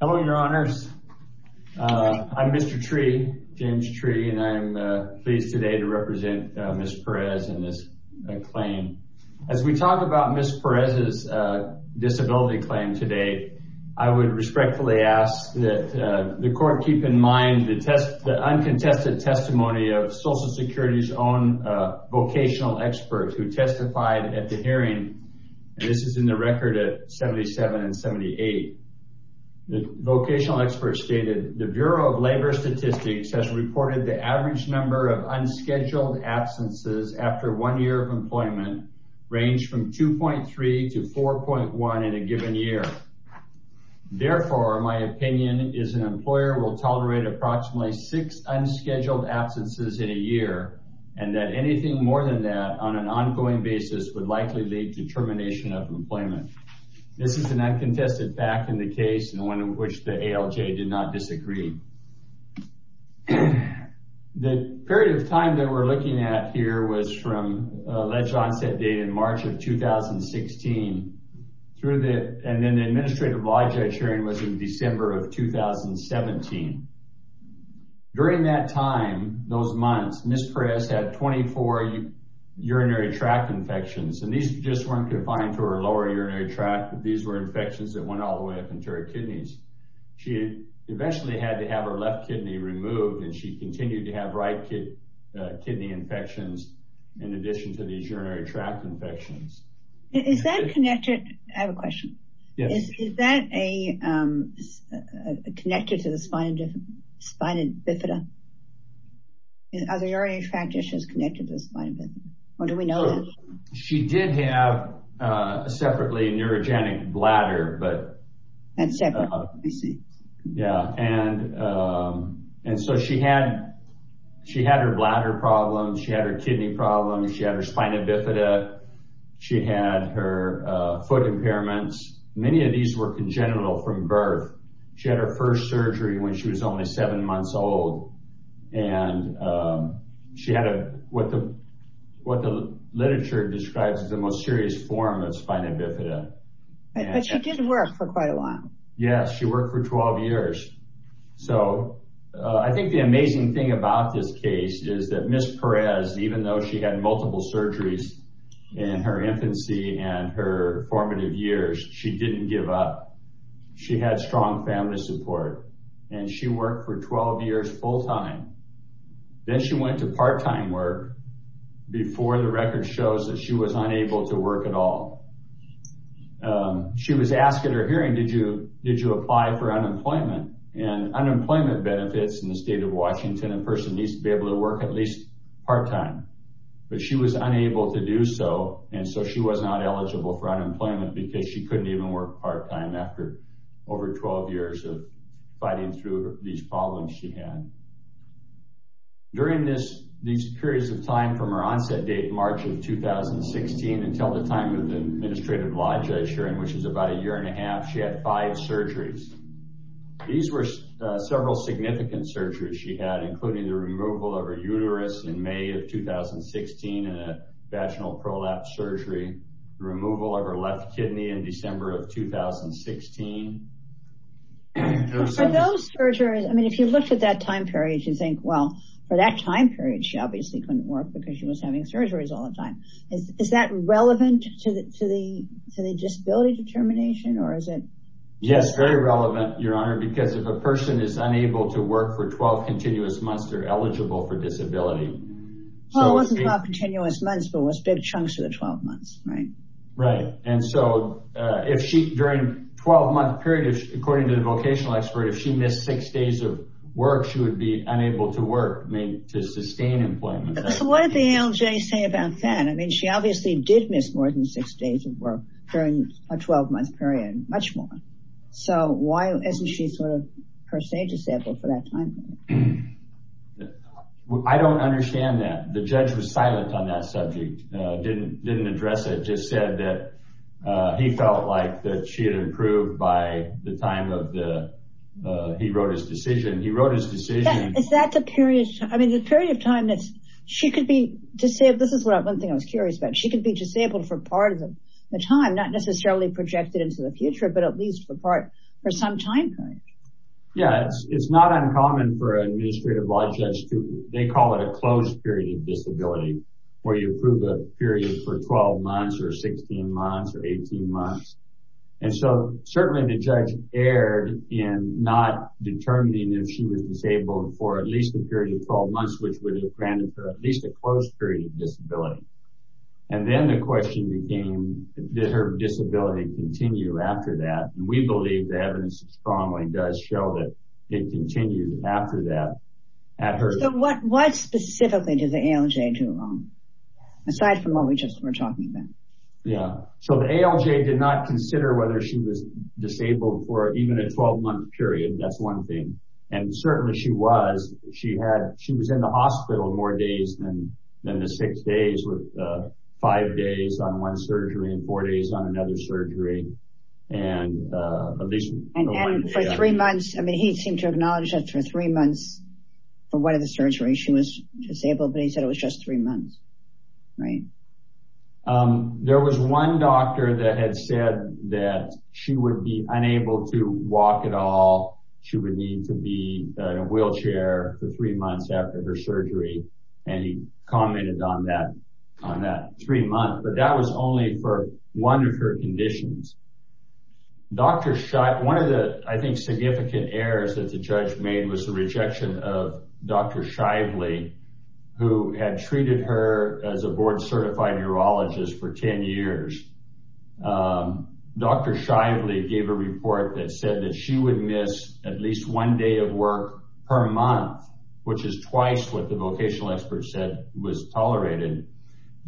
Hello, your honors. I'm Mr. Tree, James Tree, and I'm pleased today to represent Ms. Perez in this claim. As we talk about Ms. Perez's disability claim today, I would respectfully ask that the court keep in mind the uncontested testimony of Social Security's own vocational expert who vocational experts stated the Bureau of Labor Statistics has reported the average number of unscheduled absences after one year of employment range from 2.3 to 4.1 in a given year. Therefore, my opinion is an employer will tolerate approximately six unscheduled absences in a year and that anything more than that on an ongoing basis would likely lead to termination of employment. This is an uncontested fact in the case and one in which the ALJ did not disagree. The period of time that we're looking at here was from alleged onset date in March of 2016 through the and then the administrative law judge hearing was in December of 2017. During that time, those months, Ms. Perez had 24 urinary tract infections and these just weren't confined to her lower urinary tract. These were infections that went all the way up into her kidneys. She eventually had to have her left kidney removed and she continued to have right kidney infections in addition to these urinary tract infections. Is that connected? I have a question. Yes. Is that connected to the spina bifida? Are the urinary tract issues connected to the spina bifida or do we know that? She did have a separately neurogenic bladder. She had her bladder problem, she had her kidney problem, she had her spina bifida, she had her foot impairments. Many of these were congenital from birth. She had her first surgery when she was only seven months old and she had what the literature describes as the most serious form of spina bifida. But she did work for quite a while. Yes, she worked for 12 years. I think the amazing thing about this case is that Ms. Perez, even though she had multiple surgeries in her infancy and her formative years, she didn't give up. She had strong family support and she worked for 12 years full-time. Then she went to part-time work before the record shows that she was unable to work at all. She was asked at her hearing, did you apply for unemployment? Unemployment benefits in the state of Washington, a person needs to be able to work at least part-time. But she was unable to do so and so she was not eligible for unemployment because she couldn't even work part-time after over 12 years of fighting through these problems she had. During these periods of time from her onset date, March of 2016, until the time of the administrative law judge hearing, which is about a year and a half, she had five surgeries. These were several significant surgeries she had, including the removal of her uterus in May of 2016 and a vaginal prolapse surgery, the removal of her left kidney in December of 2016. For those surgeries, I mean if you looked at that time period you'd think, well for that time period she obviously couldn't work because she was having surgeries all the time. Is that relevant to the disability determination? Yes, very relevant, Your Honor, because if a person is unable to work for 12 continuous months, they're eligible for 12 continuous months but was big chunks of the 12 months, right? Right, and so if she during 12 month period, according to the vocational expert, if she missed six days of work she would be unable to work, I mean to sustain employment. So what did the ALJ say about that? I mean she obviously did miss more than six days of work during a 12 month period, much more. So why isn't she sort of disabled for that time period? I don't understand that. The judge was silent on that subject, didn't address it, just said that he felt like that she had improved by the time of the, he wrote his decision, he wrote his decision. Is that the period, I mean the period of time that she could be disabled, this is one thing I was curious about, she could be disabled for part of the time, not necessarily projected into the future, but at least for some time period. Yeah, it's not uncommon for an administrative law judge to, they call it a closed period of disability, where you approve a period for 12 months or 16 months or 18 months. And so certainly the judge erred in not determining if she was disabled for at least a period of 12 months, which would have granted her at least a closed period of disability. And then the question became, did her disability continue after that? And we believe the evidence strongly does show that it continued after that. So what specifically did the ALJ do wrong, aside from what we just were talking about? Yeah, so the ALJ did not consider whether she was disabled for even a 12 month period, that's one thing. And certainly she was, she was in the four days on another surgery. And for three months, I mean, he seemed to acknowledge that for three months for one of the surgeries she was disabled, but he said it was just three months. Right. There was one doctor that had said that she would be unable to walk at all. She would need to be in a wheelchair for three months after her surgery. And he commented on that, on that three months, but that was only for one of her conditions. Dr. Shively, one of the, I think, significant errors that the judge made was the rejection of Dr. Shively, who had treated her as a board certified urologist for 10 years. Dr. Shively gave a report that said that she would miss at least one day of work per month, which is twice what the vocational experts said was tolerated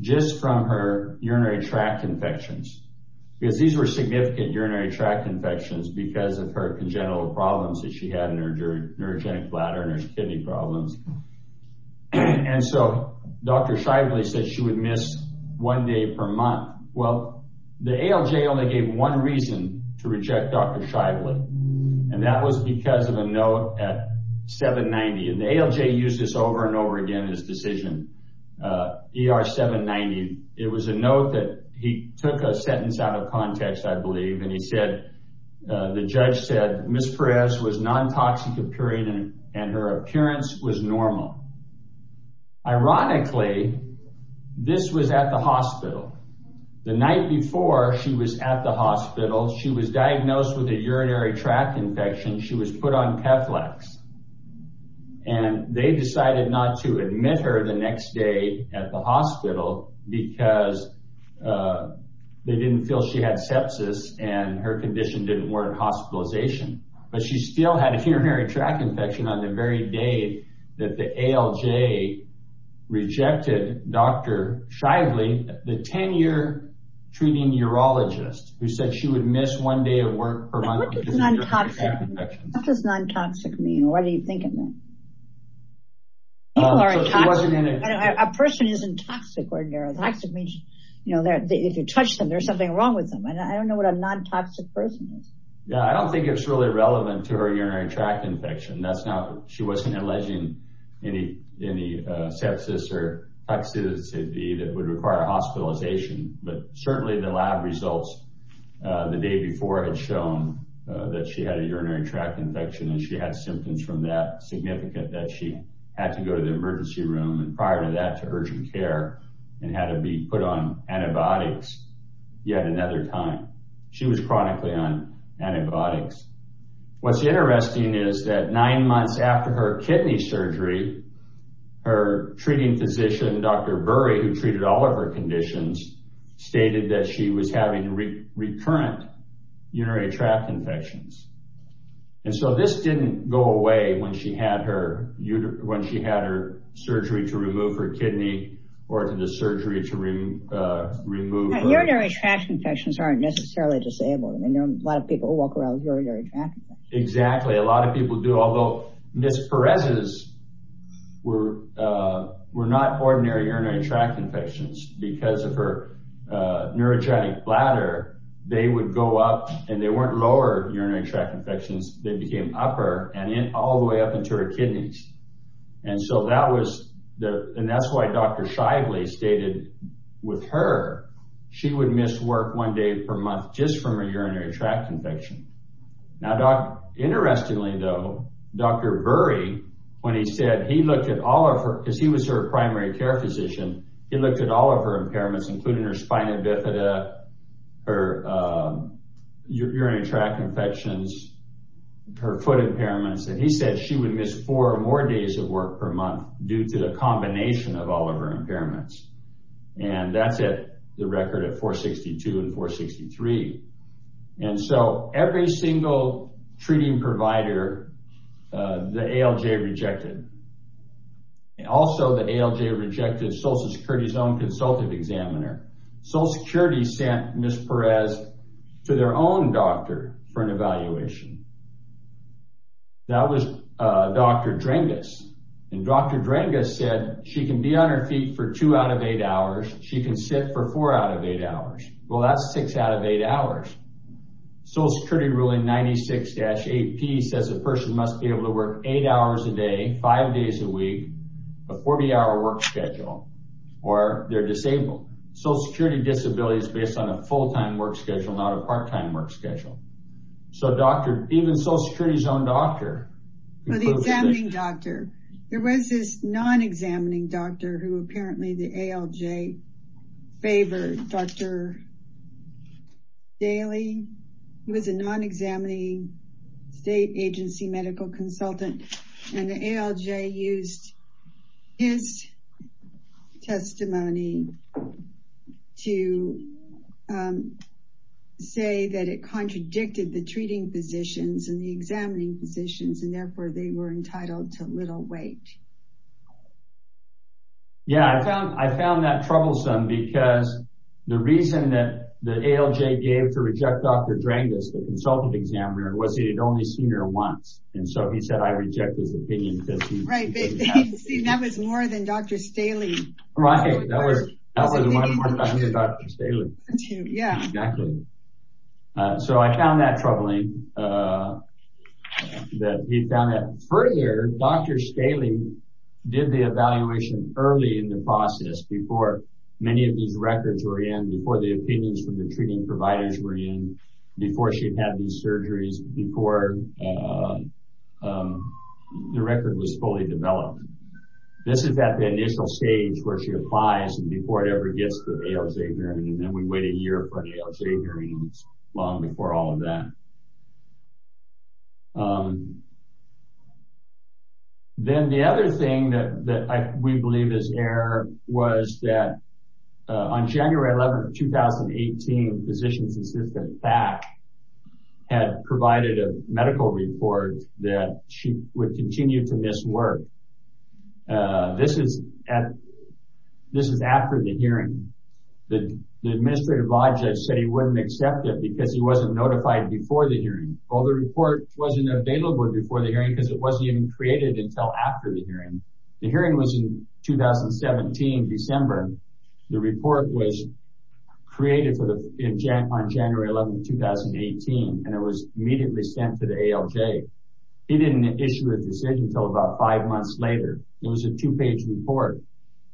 just from her urinary tract infections, because these were significant urinary tract infections because of her congenital problems that she had in her neurogenic bladder and her kidney problems. And so Dr. Shively said she would miss one day per month. Well, the ALJ only gave one reason to reject Dr. Shively, and that was because of a note at 790. And the ALJ used this over and over again in his decision, ER 790. It was a note that he took a sentence out of context, I believe, and he said, the judge said, Ms. Perez was non-toxic appearing and her appearance was with a urinary tract infection. She was put on Keflex, and they decided not to admit her the next day at the hospital because they didn't feel she had sepsis and her condition didn't warrant hospitalization. But she still had a urinary tract infection on the very day that the ALJ rejected Dr. Shively, the 10-year treating urologist, who said she would miss one day of work per month. What does non-toxic mean? What are you thinking? A person isn't toxic. If you touch them, there's something wrong with them. I don't know what a non-toxic person is. Yeah, I don't think it's really relevant to her urinary tract infection. She wasn't alleging any sepsis or toxicity that would require hospitalization, but certainly the lab results the day before had shown that she had a urinary tract infection and she had symptoms from that significant that she had to go to the emergency room and prior to that to urgent care and had to be put on antibiotics yet another time. She was chronically on antibiotics. What's interesting is that nine months after her kidney surgery, her treating physician, Dr. Burry, who treated all of her conditions, stated that she was having recurrent urinary tract infections. And so this didn't go away when she had her surgery to remove her kidney or to the surgery to remove urinary tract infections aren't necessarily disabled. A lot of people walk around with urinary tract infections. Exactly. A lot of people do, although Ms. Perez's were not ordinary urinary tract infections because of her neurogenic bladder. They would go up and they weren't lower urinary tract infections. They became upper and all the way up into her kidneys. And that's why Dr. Shively stated with her, she would miss work one day per month just from a urinary tract infection. Now, interestingly, though, Dr. Burry, when he said he looked at all of her because he was her primary care physician, he looked at all of her impairments, including her spina bifida, her urinary tract infections, her foot impairments. And he said she would miss four or more days of work per month due to the combination of all of her impairments. And that's it. The record at 462 and 463. And so every single treating provider, the ALJ rejected. Also, the ALJ rejected Social Security's own consultative examiner. Social Security sent Ms. Perez to their own doctor for an evaluation. That was Dr. Drangas. And Dr. Drangas said she can be on her feet for two out of eight hours. She can sit for four out of eight hours. Well, that's six out of eight hours. Social Security ruling 96-8P says a person must be able to work eight hours a day, five days a week, a 40 hour work schedule, or they're disabled. Social Security disability is based on a full work schedule, not a part-time work schedule. So even Social Security's own doctor. The examining doctor. There was this non-examining doctor who apparently the ALJ favored, Dr. Daly. He was a non-examining state agency medical consultant. And the ALJ used his testimony to say that it contradicted the treating physicians and the examining physicians and therefore they were entitled to little weight. Yeah, I found that troublesome because the reason that the ALJ gave to reject Dr. Drangas, the consultant examiner, was he had only seen her once. And so he said, I reject his opinion. Right. That was more than Dr. Staley. Right. So I found that troubling. He found that further, Dr. Staley did the evaluation early in the process before many of these records were in, before the opinions from the treating providers were in, before she'd had these surgeries, before the record was fully developed. This is at the initial stage where she applies and before it ever gets to the ALJ hearing. And then we wait a year for the ALJ hearing, long before all of that. Then the other thing that we believe is that on January 11th, 2018, Physicians Assistant PAC had provided a medical report that she would continue to miss work. This is at, this is after the hearing. The administrative law judge said he wouldn't accept it because he wasn't notified before the hearing. Well, the report wasn't available before the hearing because it wasn't even created until after the hearing. The hearing was in 2017, December. The report was created for the, on January 11th, 2018. And it was immediately sent to the ALJ. He didn't issue a decision until about five months later. It was a two-page report.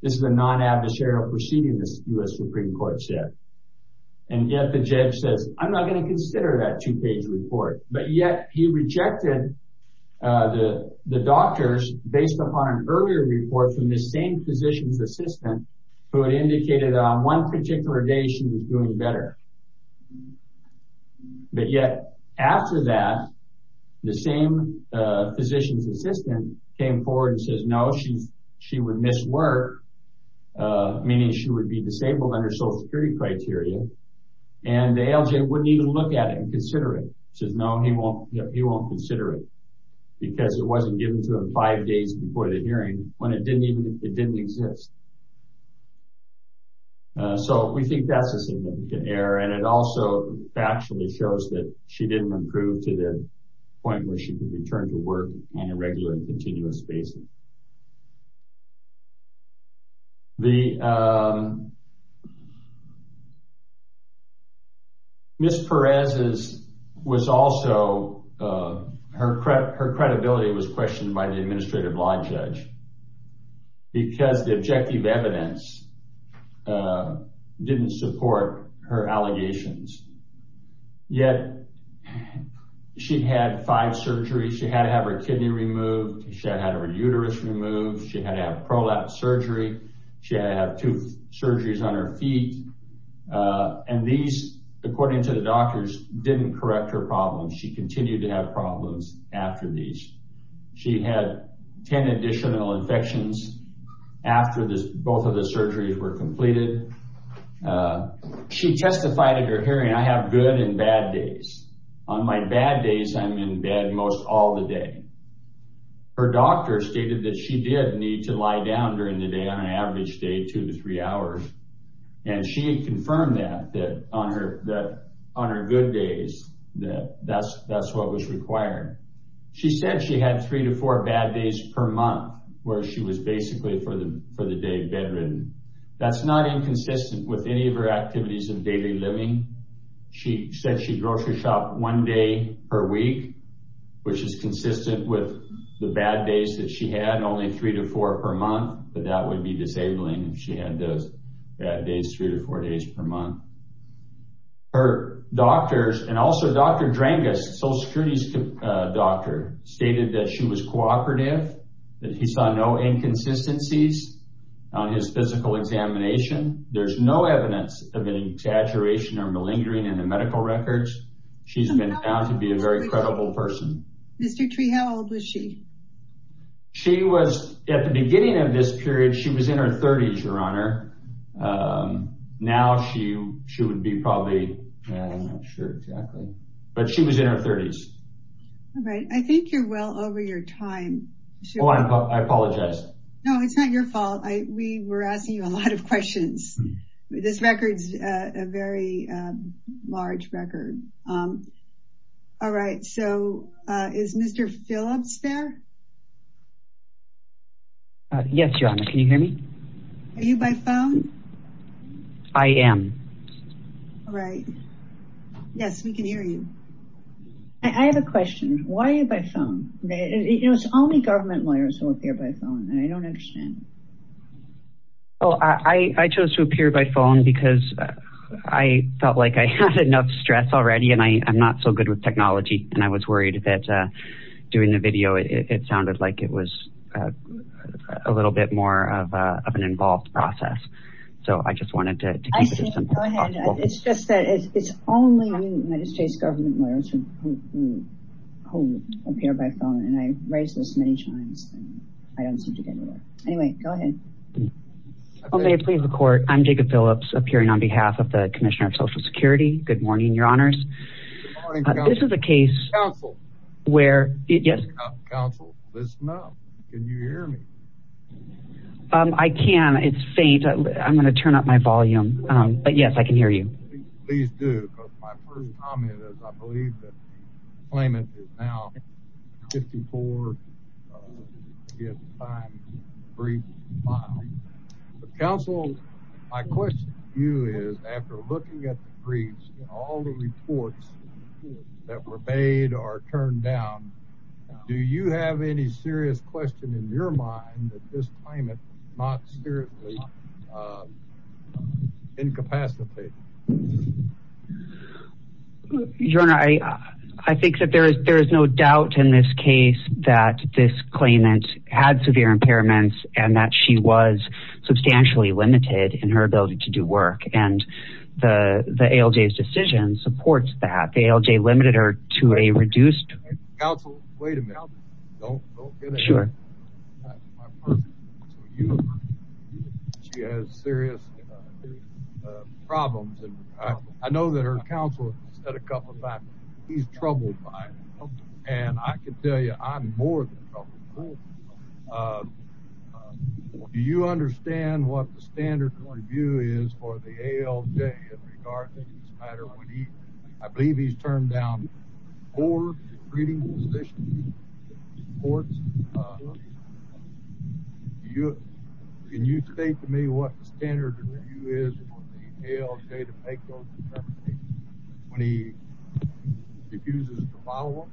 This is a non-adversarial proceeding, the US Supreme Court said. And yet the judge says, I'm not going to consider that two-page report. But yet he rejected the doctors based upon an ALJ report from the same Physicians Assistant who had indicated on one particular day she was doing better. But yet after that, the same Physicians Assistant came forward and says, no, she would miss work, meaning she would be disabled under Social Security criteria. And the ALJ wouldn't even look at it and consider it. Says, no, he won't consider it because it wasn't given to him five days before the hearing when it didn't even, it didn't exist. So we think that's a significant error. And it also factually shows that she didn't improve to the point where she could return to work on a regular and continuous basis. Ms. Perez's was also, her credibility was questioned by the Administrative Law Judge because the objective evidence didn't support her allegations. Yet she had five surgeries, she had to have her kidney removed, she had to have her uterus removed, she had to have her prolapse surgery, she had to have two surgeries on her feet. And these, according to the doctors, didn't correct her problems. She continued to have problems after these. She had 10 additional infections after this, both of the surgeries were completed. She testified at her hearing, I have good and bad days. On my bad days, I'm in bed most all the day. Her doctor stated that she did need to lie down during the day on an average day, two to three hours. And she confirmed that on her good days, that's what was required. She said she had three to four bad days per month, where she was basically for the day bedridden. That's not inconsistent with any of her activities in daily living. She said she grocery shopped one day per week, which is consistent with the bad days that she had only three to four per month. But that would be disabling if she had those bad days three to four days per month. Her doctors and also Dr. Drangas, Social Security's doctor stated that she was cooperative, that he saw no inconsistencies on his physical examination. There's no evidence of an exaggeration or malingering in the medical records. She's been found to be a very credible person. Mr. Tree, how old was she? She was at the beginning of this period, she was in her 30s, Your Honor. Now she would be probably, I'm not sure exactly, but she was in her 30s. All right, I think you're well over your time. I apologize. No, it's not your fault. We were All right, so is Mr. Phillips there? Yes, Your Honor. Can you hear me? Are you by phone? I am. All right. Yes, we can hear you. I have a question. Why are you by phone? It's only government lawyers who appear by phone, and I don't understand. Oh, I chose to appear by phone because I felt like I had enough stress already and I'm not so good with technology, and I was worried that doing the video, it sounded like it was a little bit more of an involved process. So I just wanted to keep it as simple as possible. It's just that it's only United States government lawyers who appear by phone, and I raised this many times, and I don't seem to get anywhere. Anyway, go ahead. Okay, please record. I'm Jacob Phillips appearing on behalf of the Commissioner of Social Security. Good morning, Your Honors. This is a case where... Counsel, listen up. Can you hear me? I can. It's faint. I'm going to turn up my volume, but yes, I can hear you. Please do, because my first comment is I believe that the claimant is now 54 years. Counsel, my question to you is, after looking at the briefs, all the reports that were made or turned down, do you have any serious question in your mind that this claimant not seriously incapacitated? Your Honor, I think that there is no doubt in this case that this claimant had severe impairments and that she was substantially limited in her ability to do work, and the ALJ's decision supports that. The ALJ limited her to a reduced... Counsel, wait a minute. Don't get ahead of yourself. She has serious problems. I know her counsel has said a couple of times that he's troubled by it, and I can tell you I'm more than troubled. Do you understand what the standard review is for the ALJ in regard to this matter? I believe he's turned down four treating positions. Can you state to me what the standard review is for the ALJ to make those determinations when he refuses to file one?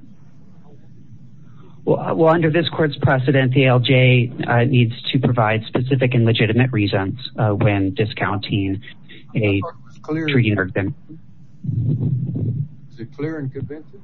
Well, under this court's precedent, the ALJ needs to provide specific and legitimate reasons when discounting a treating... Is it clear and convincing?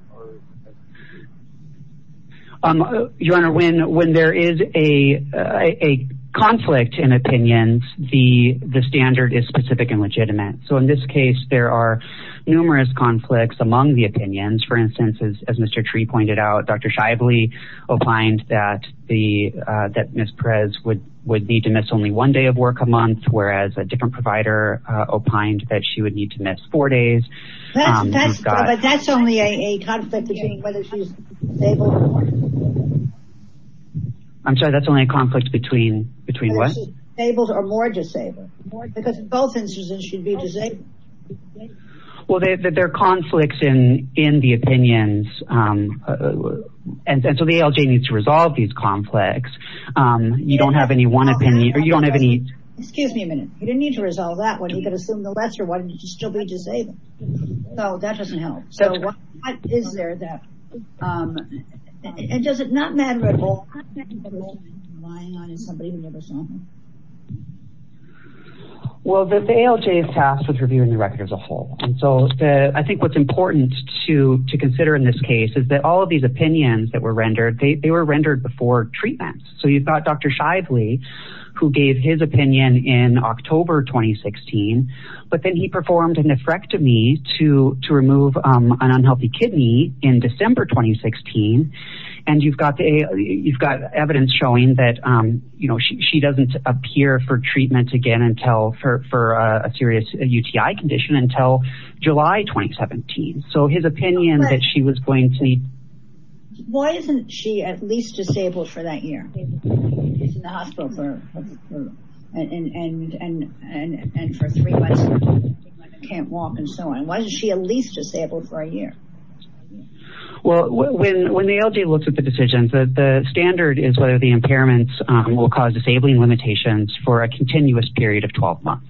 Your Honor, when there is a conflict in opinions, the standard is specific and legitimate. So in this case, there are numerous conflicts among the opinions. For instance, as Mr. Tree pointed out, Dr. Shively opined that Ms. Perez would need to miss only one day of work a month, whereas a different provider opined that she would need to miss four days. But that's only a conflict between whether she's disabled or more disabled. I'm sorry, that's only a conflict between what? Disabled or more disabled. Because in both instances, she'd be disabled. Well, there are conflicts in the opinions, and so the ALJ needs to resolve these conflicts. You don't have any one opinion... Excuse me a minute. You didn't need to resolve that one. You could assume the lesser one, and you'd still be disabled. So that doesn't help. So what is there that... And does it not matter at all... Well, the ALJ is tasked with reviewing the record as a whole. And so I think what's important to consider in this case is that all of these opinions that were rendered, they were rendered before treatment. So you've got Dr. Shively, who gave his opinion in October 2016, but then he performed a nephrectomy to remove an unhealthy kidney in December 2016. And you've got evidence showing that she doesn't appear for treatment again for a serious UTI condition until July 2017. So his opinion that she was going to... Why isn't she at least disabled for that year? She's in the hospital for... And for three months, she can't walk and so on. Why isn't she at least disabled for a year? Well, when the ALJ looks at the decisions, the standard is whether the impairments will cause disabling limitations for a continuous period of 12 months.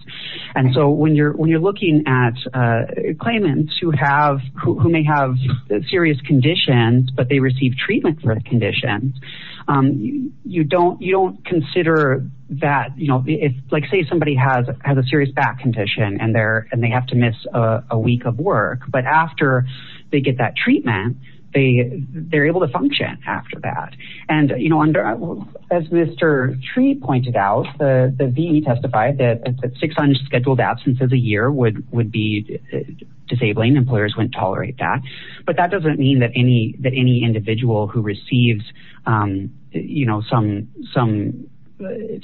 And so when you're who may have serious conditions, but they receive treatment for the conditions, you don't consider that... Say somebody has a serious back condition and they have to miss a week of work, but after they get that treatment, they're able to function after that. And as Mr. Tree pointed out, the VE testified that six unscheduled absences a year would be disabling. Employers wouldn't tolerate that. But that doesn't mean that any individual who receives some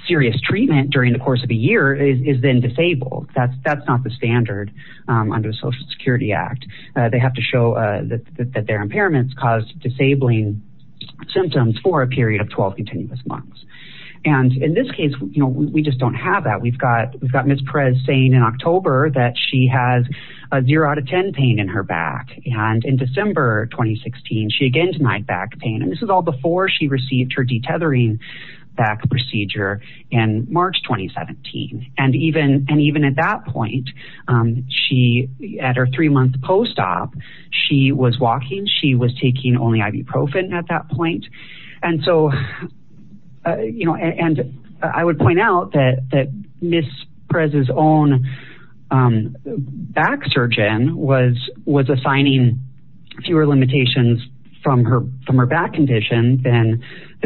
serious treatment during the course of a year is then disabled. That's not the standard under the Social Security Act. They have to show that their impairments caused disabling symptoms for a period of 12 continuous months. And in this case, we just don't have that. We've got Ms. Perez saying in October that she has a zero out of 10 pain in her back. And in December 2016, she again denied back pain. And this is all before she received her detethering back procedure in March 2017. And even at that point, at her three-month post-op, she was walking. She was taking only ibuprofen at that point. And so, you know, and I would point out that Ms. Perez's own back surgeon was assigning fewer limitations from her back condition than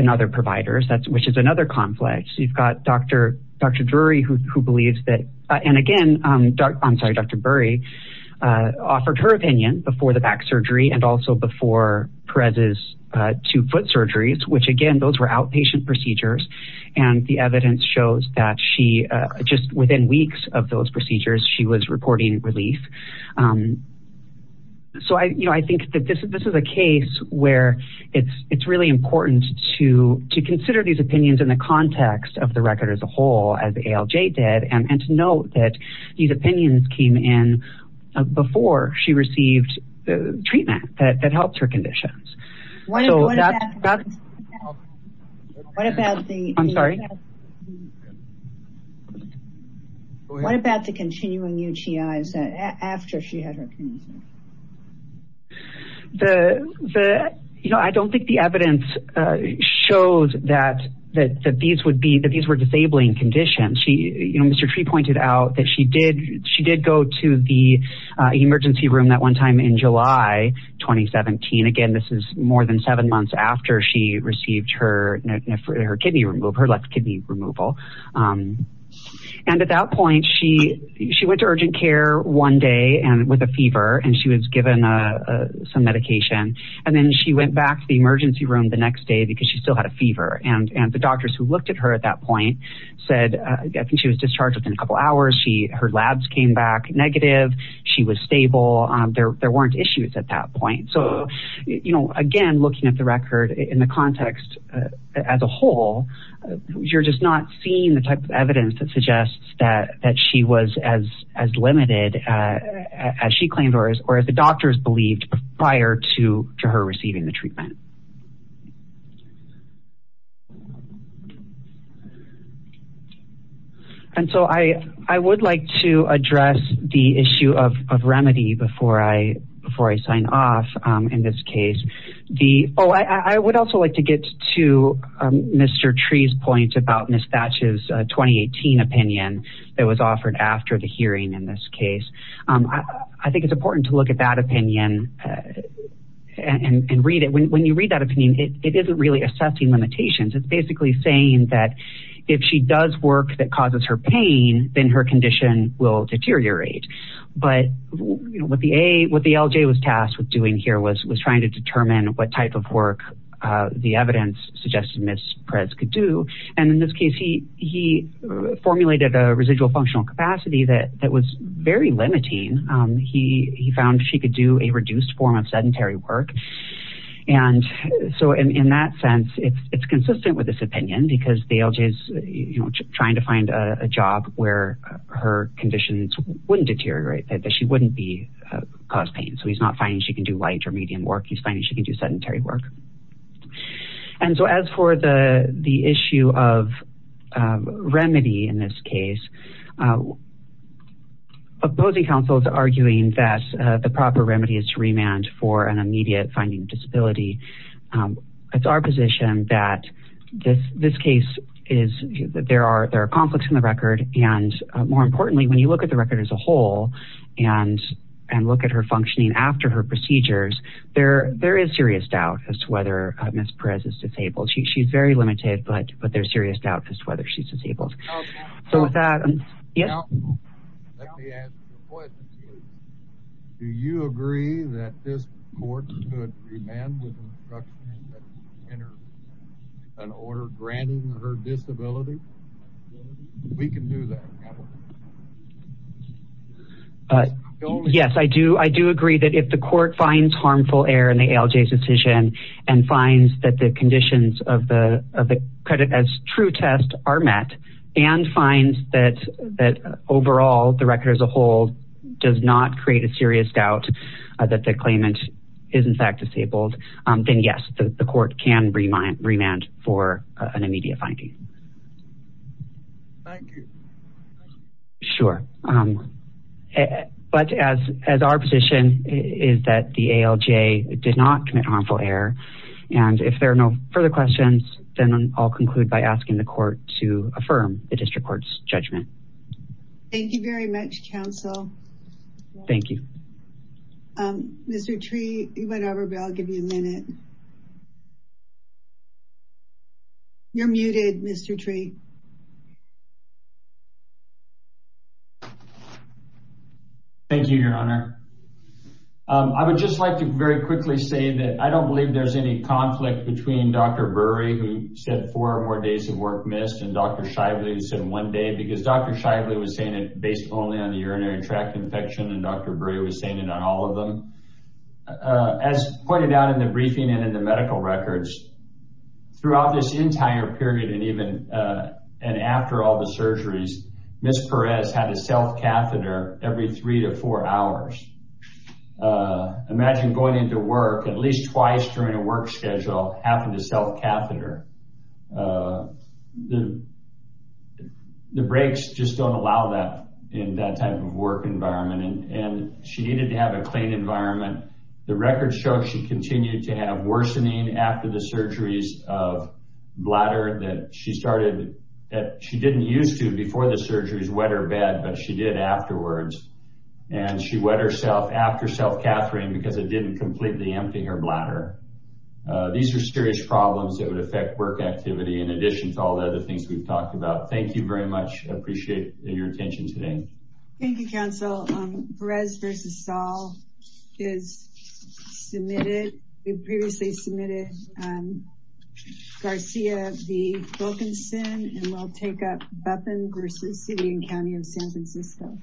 other providers, which is another conflict. You've got Dr. Drury, who believes that, and again, I'm sorry, Dr. Drury offered her opinion before the back surgery and also before Perez's two foot surgeries, which again, those were outpatient procedures. And the evidence shows that she, just within weeks of those procedures, she was reporting relief. So, you know, I think that this is a case where it's really important to consider these opinions in the context of the record as a whole, as ALJ did, and to note that these opinions came in before she received the treatment that helped her conditions. What about the continuing UTIs after she had her condition? The, you know, I don't think the evidence showed that these would be, that these were disabling conditions. She, you know, Mr. Tree pointed out that she did, she did go to the emergency room that one time in July, 2017. Again, this is more than seven months after she received her kidney, her left kidney removal. And at that point, she went to urgent care one day and with a fever, and she was given some medication. And then she went back to the emergency room the next day because she still had a fever. And the doctors who looked at her at that point said, I think she was discharged within a couple hours. Her labs came back negative. She was stable. There weren't issues at that point. So, you know, again, looking at the record in the context as a whole, you're just not seeing the type of evidence that suggests that she was as limited as she claimed or as the case. And so I would like to address the issue of remedy before I sign off in this case. The, oh, I would also like to get to Mr. Tree's point about Ms. Thatch's 2018 opinion that was offered after the hearing in this case. I think it's important to look at that opinion and read when you read that opinion, it isn't really assessing limitations. It's basically saying that if she does work that causes her pain, then her condition will deteriorate. But, you know, what the LJ was tasked with doing here was trying to determine what type of work the evidence suggested Ms. Perez could do. And in this case, he formulated a residual functional capacity that was very limiting. He found she could do a reduced form of sedentary work. And so in that sense, it's consistent with this opinion because the LJ's, you know, trying to find a job where her conditions wouldn't deteriorate, that she wouldn't be cause pain. So he's not finding she can do light or medium work. He's finding she can do sedentary work. And so as for the issue of remedy in this case, opposing counsel is arguing that the proper remedy is to remand for an immediate finding disability. It's our position that this case is, there are conflicts in the record. And more importantly, when you look at the record as a whole and look at her functioning after her procedures, there is serious doubt as to whether Ms. Perez is disabled. She's very limited, but there's serious doubt as to whether she's disabled. So with that, yes. Let me ask a question to you. Do you agree that this court could remand with an order granting her disability? We can do that. Yes, I do. I do agree that if the court finds harmful error in the LJ's decision and finds that the conditions of the credit as true test are met and finds that overall the record as a whole does not create a serious doubt that the claimant is in fact disabled, then yes, the court can remand for an immediate finding. Thank you. Sure. But as our position is that the ALJ did not commit harmful error. And if there are no further questions, then I'll conclude by asking the court to affirm the district court's judgment. Thank you very much, counsel. Thank you. Mr. Tree, you went over, but I'll give you a minute. You're muted, Mr. Tree. Thank you, your honor. I would just like to very quickly say that I don't believe there's any conflict between Dr. Burry who said four or more days of work missed and Dr. Shively who said one day because Dr. Shively was saying it based only on the urinary tract infection and Dr. Burry was saying it on all of them. As pointed out in the briefing and in the medical records, throughout this entire period and even and after all the surgeries, Ms. Perez had a self-catheter every three to four hours. Imagine going into work at least twice during a work schedule, having to self-catheter. The breaks just don't allow that in that type of work environment. And she needed to have a clean environment. The records show she continued to have worsening after the surgeries of bladder that she started, that she didn't use to before the surgeries, wet her bed, but she did afterwards. And she wet herself after self-cathetering because it didn't completely empty her bladder. These are serious problems that would affect work activity in addition to all the other things we've talked about. Thank you very much. I appreciate your attention today. Thank you, counsel. Perez versus Saul is submitted. We previously submitted Garcia v. Wilkinson and we'll take up Buffen versus City and County of San Francisco.